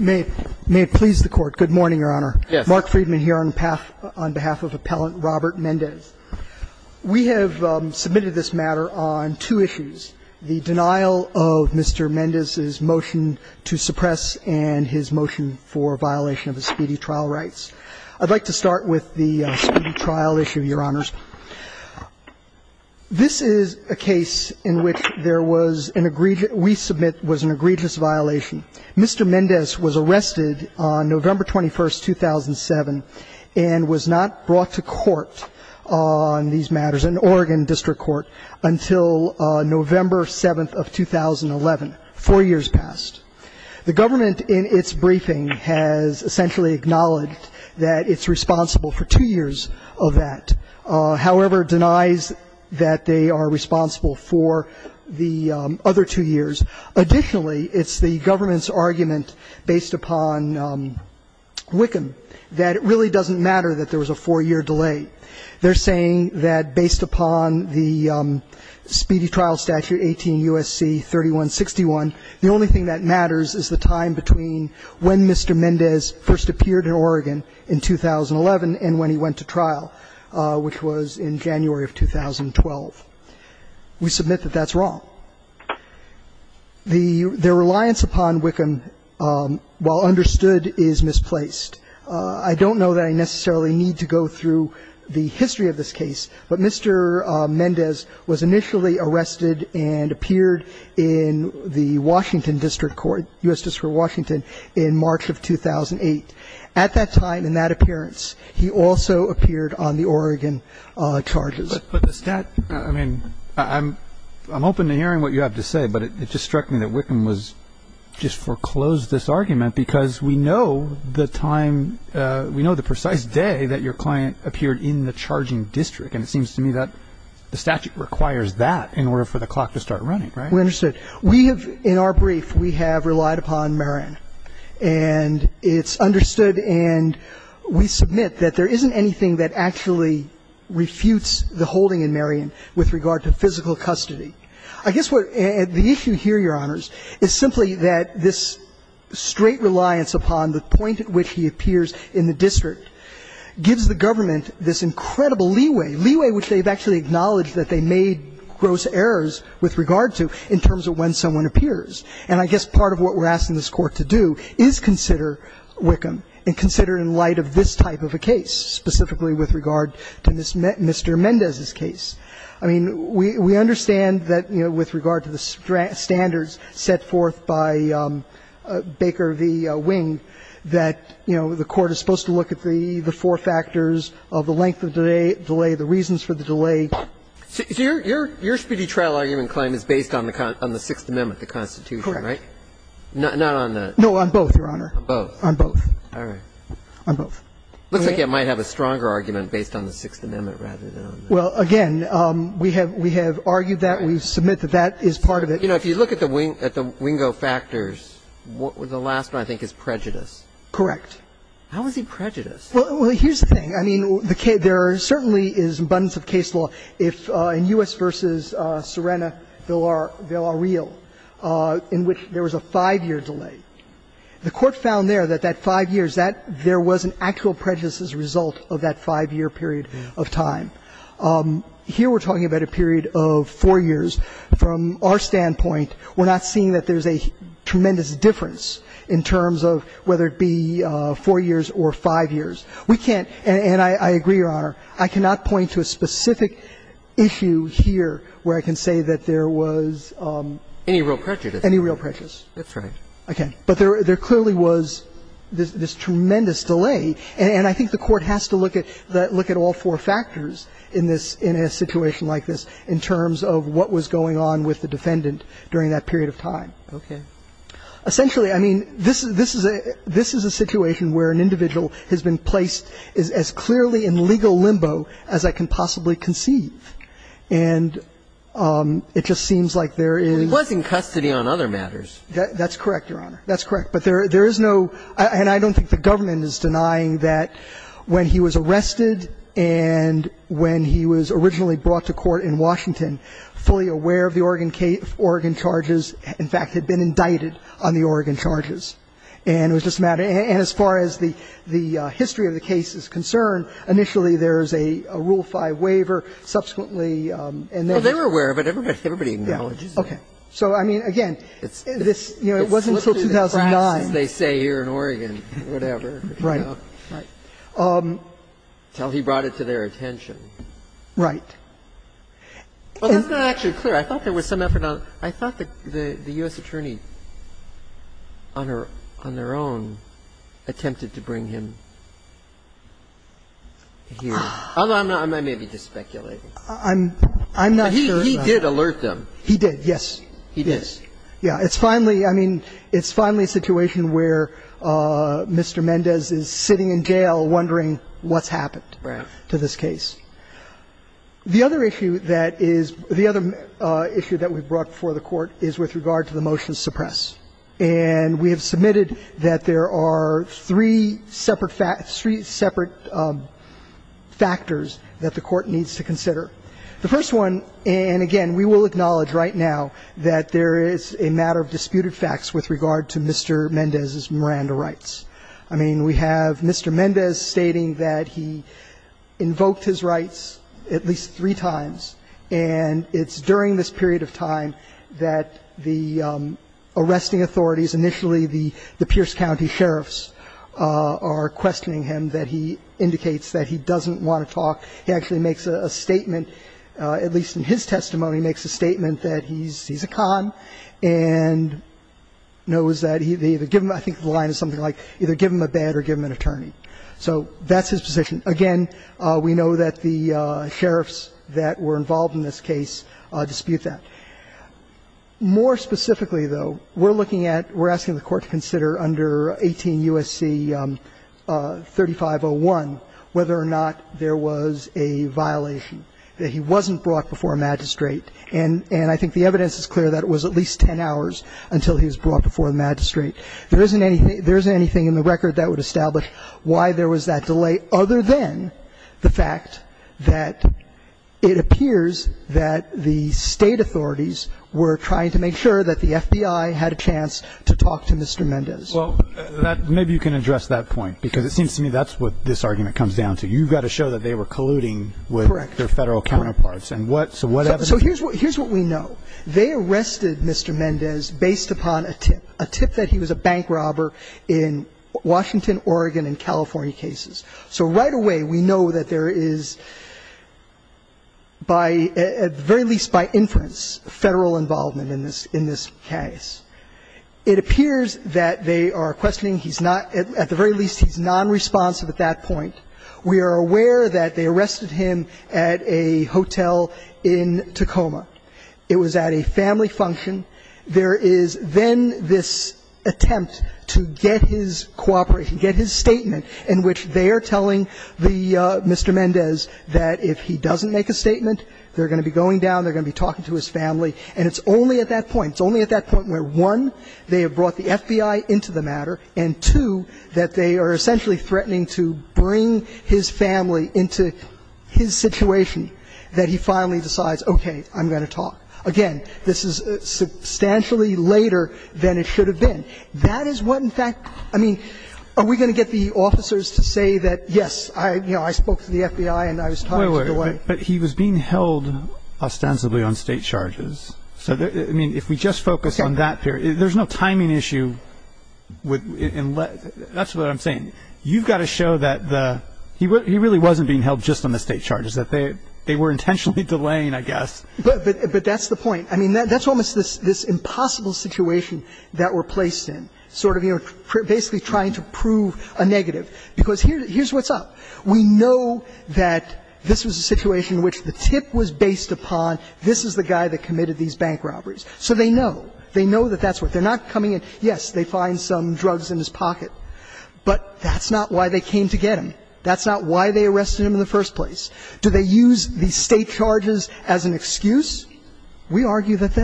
We have submitted this matter on two issues, the denial of Mr. Mendez's motion to suppress and his motion for violation of the speedy trial rights. I'd like to start with the speedy trial issue, Your Honors. This is a case in which there was an egregious we submit was an egregious violation. Mr. Mendez's motion to suppress and his motion Mr. Mendez was arrested on November 21, 2007, and was not brought to court on these matters in Oregon District Court until November 7 of 2011, four years past. The government in its briefing has essentially acknowledged that it's responsible for two years of that, however denies that they are responsible for the other two years. Additionally, it's the government's argument based upon Wickham that it really doesn't matter that there was a four-year delay. They're saying that based upon the speedy trial statute, 18 U.S.C. 3161, the only thing that matters is the time between when Mr. Mendez first appeared in Oregon in 2011 and when he went to trial, which was in January of 2012. We submit that that's wrong. Their reliance upon Wickham, while understood, is misplaced. I don't know that I necessarily need to go through the history of this case, but Mr. Mendez was initially arrested and appeared in the Washington District Court, U.S. District Court of Washington, in March of 2008. At that time, in that appearance, he also appeared on the Oregon charges. But the statute, I mean, I'm open to hearing what you have to say, but it just struck me that Wickham was just foreclosed this argument because we know the time, we know the precise day that your client appeared in the charging district. And it seems to me that the statute requires that in order for the clock to start running, right? We understood. We have, in our brief, we have relied upon Marin. And it's understood and we submit that there isn't anything that actually refutes the holding in Marin with regard to physical custody. I guess what the issue here, Your Honors, is simply that this straight reliance upon the point at which he appears in the district gives the government this incredible leeway, leeway which they've actually acknowledged that they made gross errors with regard to in terms of when someone appears. And I guess part of what we're asking this Court to do is consider Wickham and consider in light of this type of a case, specifically with regard to Mr. Mendez's case. I mean, we understand that with regard to the standards set forth by Baker v. Wing, that, you know, the Court is supposed to look at the four factors of the length of delay, the reasons for the delay. So your speedy trial argument claim is based on the Sixth Amendment, the Constitution, right? Correct. Not on the ---- No, on both, Your Honor. On both. On both. All right. On both. Looks like you might have a stronger argument based on the Sixth Amendment rather than on the ---- Well, again, we have argued that. We submit that that is part of it. You know, if you look at the Wingo factors, the last one, I think, is prejudice. Correct. How is he prejudiced? Well, here's the thing. I mean, there certainly is an abundance of case law. In U.S. v. Serena, they'll are real, in which there was a five-year delay. The Court found there that that five years, that there was an actual prejudice as a result of that five-year period of time. Here we're talking about a period of four years. From our standpoint, we're not seeing that there's a tremendous difference in terms of whether it be four years or five years. We can't ---- and I agree, Your Honor. I cannot point to a specific issue here where I can say that there was any real prejudice. That's right. Okay. But there clearly was this tremendous delay. And I think the Court has to look at all four factors in this ---- in a situation like this in terms of what was going on with the defendant during that period of time. Okay. Essentially, I mean, this is a situation where an individual has been placed as clearly in legal limbo as I can possibly conceive. And it just seems like there is ---- He was in custody on other matters. That's correct, Your Honor. That's correct. But there is no ---- and I don't think the government is denying that when he was arrested and when he was originally brought to court in Washington, fully aware of the Oregon charges, in fact, had been indicted on the Oregon charges. And it was just a matter of ---- and as far as the history of the case is concerned, initially there is a Rule 5 waiver. Subsequently, and there was ---- Well, they were aware of it. Everybody acknowledges it. Okay. So, I mean, again, this, you know, it wasn't until 2009. It slipped through the cracks, as they say here in Oregon, whatever. Right. Right. Until he brought it to their attention. Right. Well, that's not actually clear. I thought there was some effort on ---- I thought the U.S. attorney on her own attempted to bring him here. I'm not ---- I may be just speculating. I'm not sure about that. He did alert them. He did, yes. He did. Yeah. It's finally, I mean, it's finally a situation where Mr. Mendez is sitting in jail wondering what's happened to this case. The other issue that is ---- the other issue that we brought before the Court is with regard to the motion to suppress. And we have submitted that there are three separate factors that the Court needs to consider. The first one, and again, we will acknowledge right now that there is a matter of disputed facts with regard to Mr. Mendez's Miranda rights. I mean, we have Mr. Mendez stating that he invoked his rights at least three times, and it's during this period of time that the arresting authorities, initially the Pierce County sheriffs, are questioning him, that he indicates that he doesn't want to talk. He actually makes a statement, at least in his testimony, makes a statement that he's a con and knows that he either give him ---- I think the line is something like either give him a bed or give him an attorney. So that's his position. Again, we know that the sheriffs that were involved in this case dispute that. More specifically, though, we're looking at, we're asking the Court to consider under 18 U.S.C. 3501 whether or not there was a violation that he wasn't brought before a magistrate. And I think the evidence is clear that it was at least 10 hours until he was brought before the magistrate. There isn't anything in the record that would establish why there was that delay other than the fact that it appears that the State authorities were trying to make sure that the FBI had a chance to talk to Mr. Mendez. Well, maybe you can address that point, because it seems to me that's what this argument comes down to. You've got to show that they were colluding with their Federal counterparts. So what evidence? So here's what we know. They arrested Mr. Mendez based upon a tip, a tip that he was a bank robber in Washington, Oregon, and California cases. So right away we know that there is by, at the very least by inference, Federal involvement in this case. It appears that they are questioning, he's not, at the very least he's nonresponsive at that point. We are aware that they arrested him at a hotel in Tacoma. It was at a family function. There is then this attempt to get his cooperation, get his statement in which they are telling the Mr. Mendez that if he doesn't make a statement, they're going to be going down, they're going to be talking to his family. And it's only at that point, it's only at that point where, one, they have brought the FBI into the matter, and two, that they are essentially threatening to bring his family into his situation, that he finally decides, okay, I'm going to talk. Again, this is substantially later than it should have been. That is what, in fact, I mean, are we going to get the officers to say that, yes, I, you know, I spoke to the FBI and I was talked to the way. But he was being held ostensibly on State charges. So, I mean, if we just focus on that period, there's no timing issue. That's what I'm saying. You've got to show that the he really wasn't being held just on the State charges, that they were intentionally delaying, I guess. But that's the point. I mean, that's almost this impossible situation that we're placed in, sort of, you know, basically trying to prove a negative. Because here's what's up. We know that this was a situation in which the tip was based upon this is the guy that committed these bank robberies. So they know. They know that that's what they're not coming in. Yes, they find some drugs in his pocket. But that's not why they came to get him. That's not why they arrested him in the first place. Do they use the State charges as an excuse? We argue that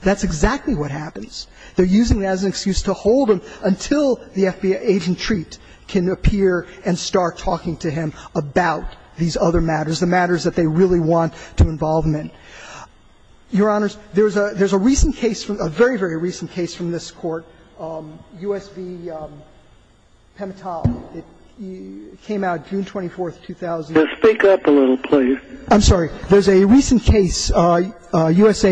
that's exactly what happens. They're using it as an excuse to hold him until the FBI agent Treat can appear and start talking to him about these other matters, the matters that they really want to involve him in. Your Honor, there's a recent case, a very, very recent case from this Court, U.S. v. Pimentel. It came out June 24th, 2000. Speak up a little, please. I'm sorry. There's a recent case, U.S.A.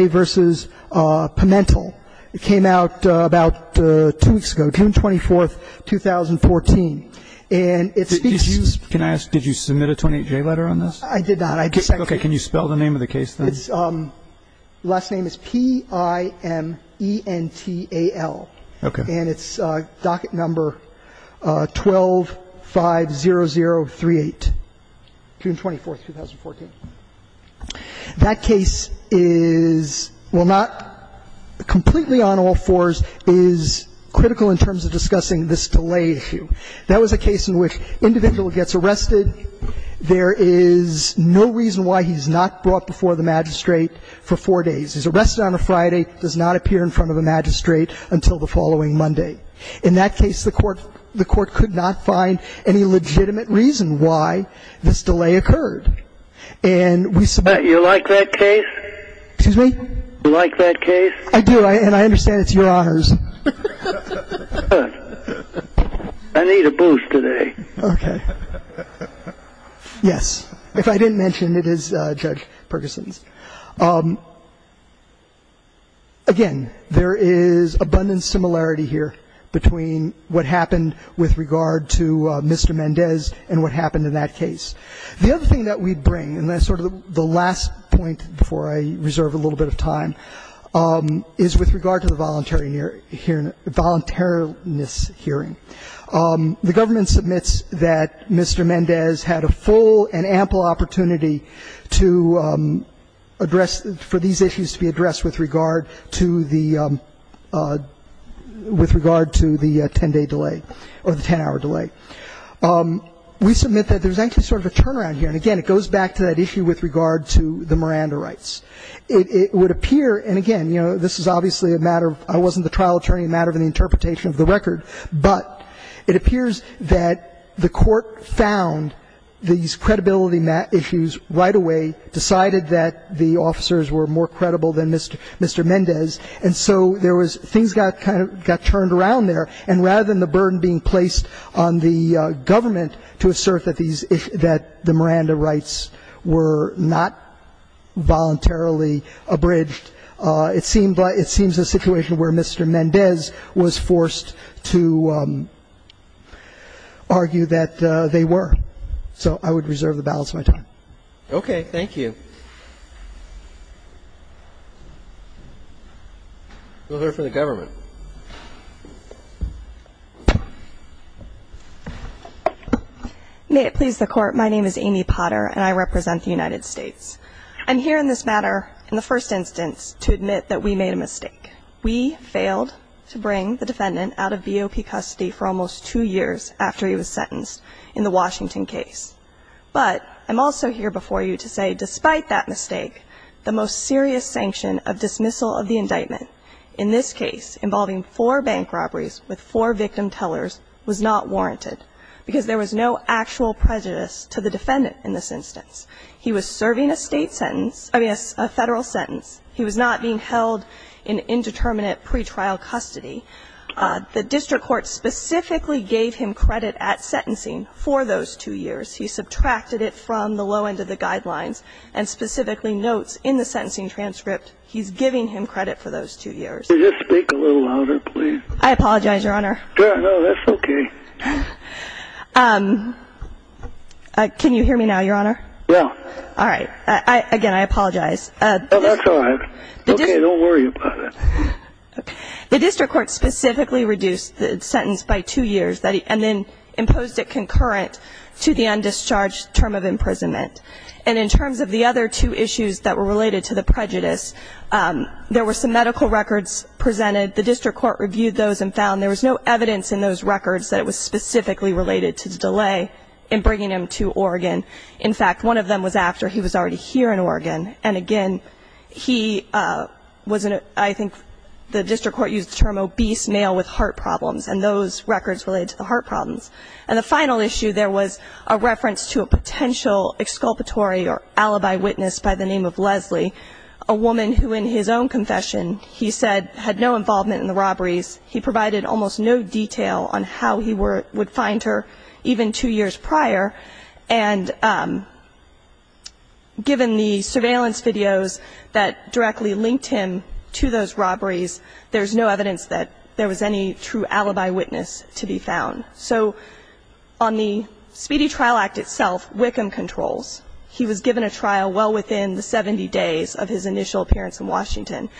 v. Pimentel. It came out about two weeks ago, June 24th, 2014. And it speaks to you. Can I ask, did you submit a 28J letter on this? I did not. Okay. Can you spell the name of the case, then? Its last name is P-I-M-E-N-T-A-L. Okay. And its docket number 1250038, June 24th, 2014. That case is, well, not completely on all fours, is critical in terms of discussing this delay issue. That was a case in which an individual gets arrested. There is no reason why he's not brought before the magistrate for four days. He's arrested on a Friday, does not appear in front of a magistrate until the following Monday. In that case, the Court could not find any legitimate reason why this delay occurred. And we submit. You like that case? Excuse me? You like that case? I do, and I understand it's Your Honors. I need a booze today. Okay. Yes. If I didn't mention, it is Judge Perguson's. Again, there is abundant similarity here between what happened with regard to Mr. Mendez and what happened in that case. The other thing that we bring, and that's sort of the last point before I reserve a little bit of time, is with regard to the voluntary hearing, the voluntariness hearing. The government submits that Mr. Mendez had a full and ample opportunity to address for these issues to be addressed with regard to the 10-day delay, or the 10-hour delay. We submit that there's actually sort of a turnaround here, and again, it goes back to that issue with regard to the Miranda rights. It would appear, and again, you know, this is obviously a matter of, I wasn't the interpretation of the record, but it appears that the court found these credibility issues right away, decided that the officers were more credible than Mr. Mendez, and so there was, things kind of got turned around there, and rather than the burden being placed on the government to assert that the Miranda rights were not voluntarily abridged, it seems a situation where Mr. Mendez was forced to argue that they were. So I would reserve the balance of my time. Okay. Thank you. We'll hear from the government. May it please the Court. My name is Amy Potter, and I represent the United States. I'm here in this matter in the first instance to admit that we made a mistake. We failed to bring the defendant out of BOP custody for almost two years after he was sentenced in the Washington case. But I'm also here before you to say despite that mistake, the most serious sanction of dismissal of the indictment in this case involving four bank robberies with four victim tellers was not warranted, because there was no actual prejudice to the defendant in this instance. He was serving a state sentence, I mean, a federal sentence. He was not being held in indeterminate pretrial custody. The district court specifically gave him credit at sentencing for those two years. He subtracted it from the low end of the guidelines and specifically notes in the sentencing transcript he's giving him credit for those two years. Could you just speak a little louder, please? I apologize, Your Honor. No, that's okay. Can you hear me now, Your Honor? Yeah. All right. Again, I apologize. No, that's all right. Okay, don't worry about it. The district court specifically reduced the sentence by two years and then imposed it concurrent to the undischarged term of imprisonment. And in terms of the other two issues that were related to the prejudice, there were some medical records presented. The district court reviewed those and found there was no evidence in those records that it was specifically related to the delay in bringing him to Oregon. In fact, one of them was after he was already here in Oregon. And again, he was in a ‑‑ I think the district court used the term obese male with heart problems, and those records related to the heart problems. And the final issue, there was a reference to a potential exculpatory or alibi witness by the name of Leslie, a woman who in his own confession, he said, had no involvement in the robberies. He provided almost no detail on how he would find her even two years prior. And given the surveillance videos that directly linked him to those robberies, there's no evidence that there was any true alibi witness to be found. So on the Speedy Trial Act itself, Wickham controls. He was given a trial well within the 70 days of his initial appearance in Washington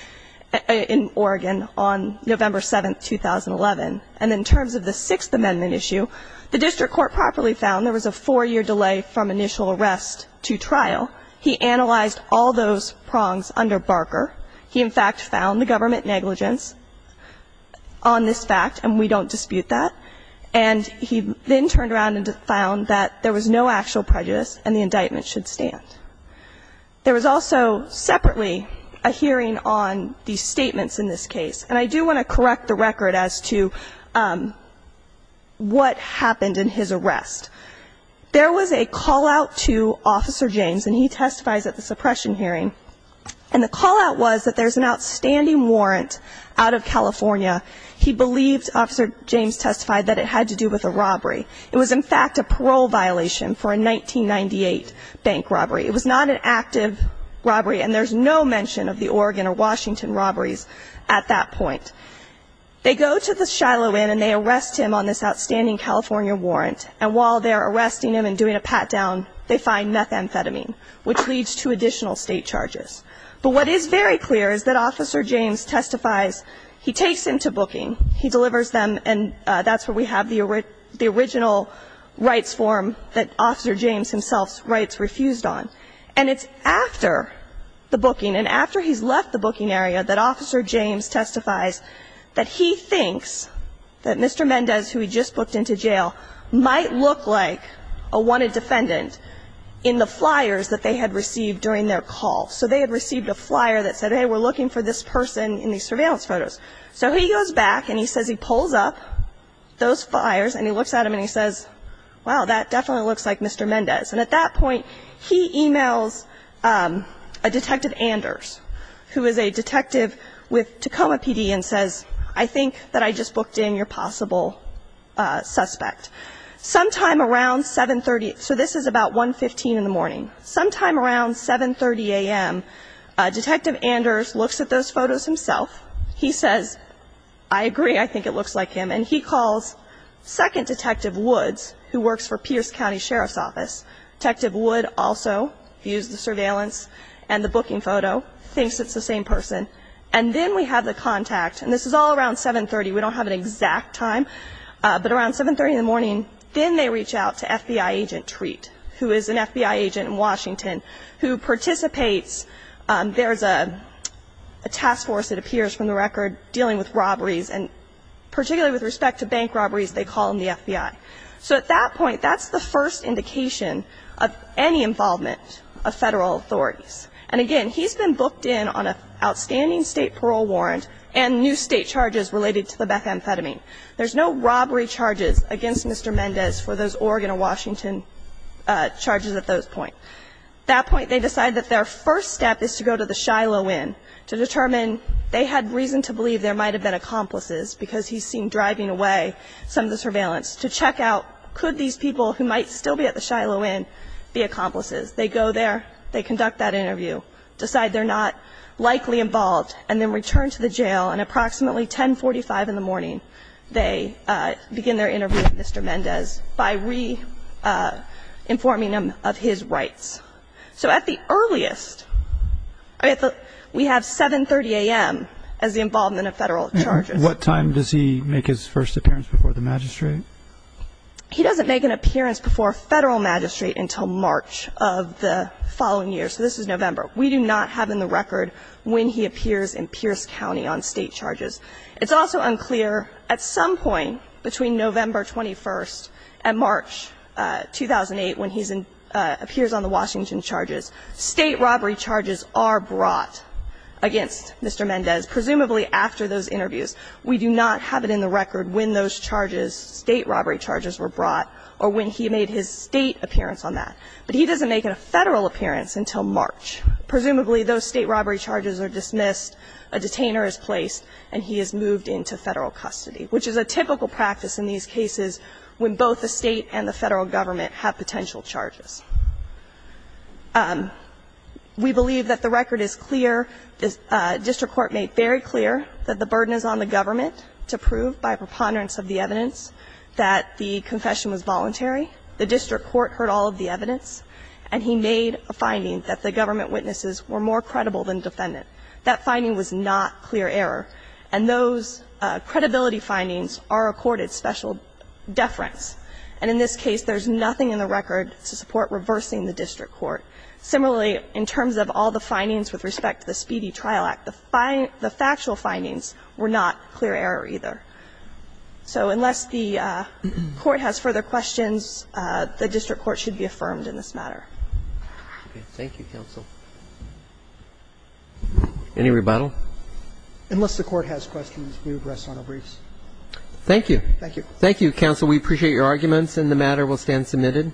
in Oregon on November 7, 2011. And in terms of the Sixth Amendment issue, the district court properly found there was a four‑year delay from initial arrest to trial. He analyzed all those prongs under Barker. He in fact found the government negligence on this fact, and we don't dispute that. And he then turned around and found that there was no actual prejudice and the indictment should stand. There was also separately a hearing on the statements in this case. And I do want to correct the record as to what happened in his arrest. There was a callout to Officer James, and he testifies at the suppression hearing. And the callout was that there's an outstanding warrant out of California. He believed, Officer James testified, that it had to do with a robbery. It was in fact a parole violation for a 1998 bank robbery. It was not an active robbery, and there's no mention of the Oregon or Washington robberies at that point. They go to the Shiloh Inn and they arrest him on this outstanding California warrant. And while they're arresting him and doing a pat down, they find methamphetamine, which leads to additional state charges. But what is very clear is that Officer James testifies. He takes him to booking. He delivers them, and that's where we have the original rights form that Officer James himself's rights refused on. And it's after the booking and after he's left the booking area that Officer James testifies that he thinks that Mr. Mendez, who he just booked into jail, might look like a wanted defendant in the flyers that they had received during their call. So they had received a flyer that said, hey, we're looking for this person in these surveillance photos. So he goes back and he says he pulls up those flyers, and he looks at them, and he says, wow, that definitely looks like Mr. Mendez. And at that point, he emails Detective Anders, who is a detective with Tacoma PD, and says, I think that I just booked in your possible suspect. Sometime around 730, so this is about 115 in the morning. Sometime around 730 a.m., Detective Anders looks at those photos himself. He says, I agree, I think it looks like him. And he calls Second Detective Woods, who works for Pierce County Sheriff's Office. Detective Woods also views the surveillance and the booking photo, thinks it's the same person. And then we have the contact, and this is all around 730. We don't have an exact time. But around 730 in the morning, then they reach out to FBI agent Treat, who is an FBI agent in Washington, who participates. There is a task force, it appears from the record, dealing with robberies, and particularly with respect to bank robberies, they call in the FBI. So at that point, that's the first indication of any involvement of federal authorities. And again, he's been booked in on an outstanding state parole warrant and new state charges related to the methamphetamine. There's no robbery charges against Mr. Mendez for those Oregon or Washington charges at this point. At that point, they decide that their first step is to go to the Shiloh Inn to determine they had reason to believe there might have been accomplices, because he's seen driving away some of the surveillance, to check out, could these people who might still be at the Shiloh Inn be accomplices. They go there, they conduct that interview, decide they're not likely involved, and then return to the jail, and approximately 1045 in the morning, they begin their interview with Mr. Mendez by re-informing him of his rights. So at the earliest, we have 730 a.m. as the involvement of federal charges. What time does he make his first appearance before the magistrate? He doesn't make an appearance before a federal magistrate until March of the following year. So this is November. We do not have in the record when he appears in Pierce County on state charges. It's also unclear at some point between November 21st and March 2008 when he appears on the Washington charges, state robbery charges are brought against Mr. Mendez, presumably after those interviews. We do not have it in the record when those charges, state robbery charges were brought or when he made his state appearance on that. But he doesn't make a federal appearance until March. Presumably, those state robbery charges are dismissed, a detainer is placed, and he is moved into federal custody, which is a typical practice in these cases when both the state and the federal government have potential charges. We believe that the record is clear. The district court made very clear that the burden is on the government to prove by preponderance of the evidence that the confession was voluntary. The district court heard all of the evidence, and he made a finding that the government witnesses were more credible than defendant. That finding was not clear error. And those credibility findings are accorded special deference. And in this case, there's nothing in the record to support reversing the district court. Similarly, in terms of all the findings with respect to the Speedy Trial Act, the factual findings were not clear error either. So unless the court has further questions, the district court should be affirmed in this matter. Roberts. Thank you, counsel. Any rebuttal? Unless the court has questions, we will address final briefs. Thank you. Thank you. Thank you, counsel. We appreciate your arguments, and the matter will stand submitted.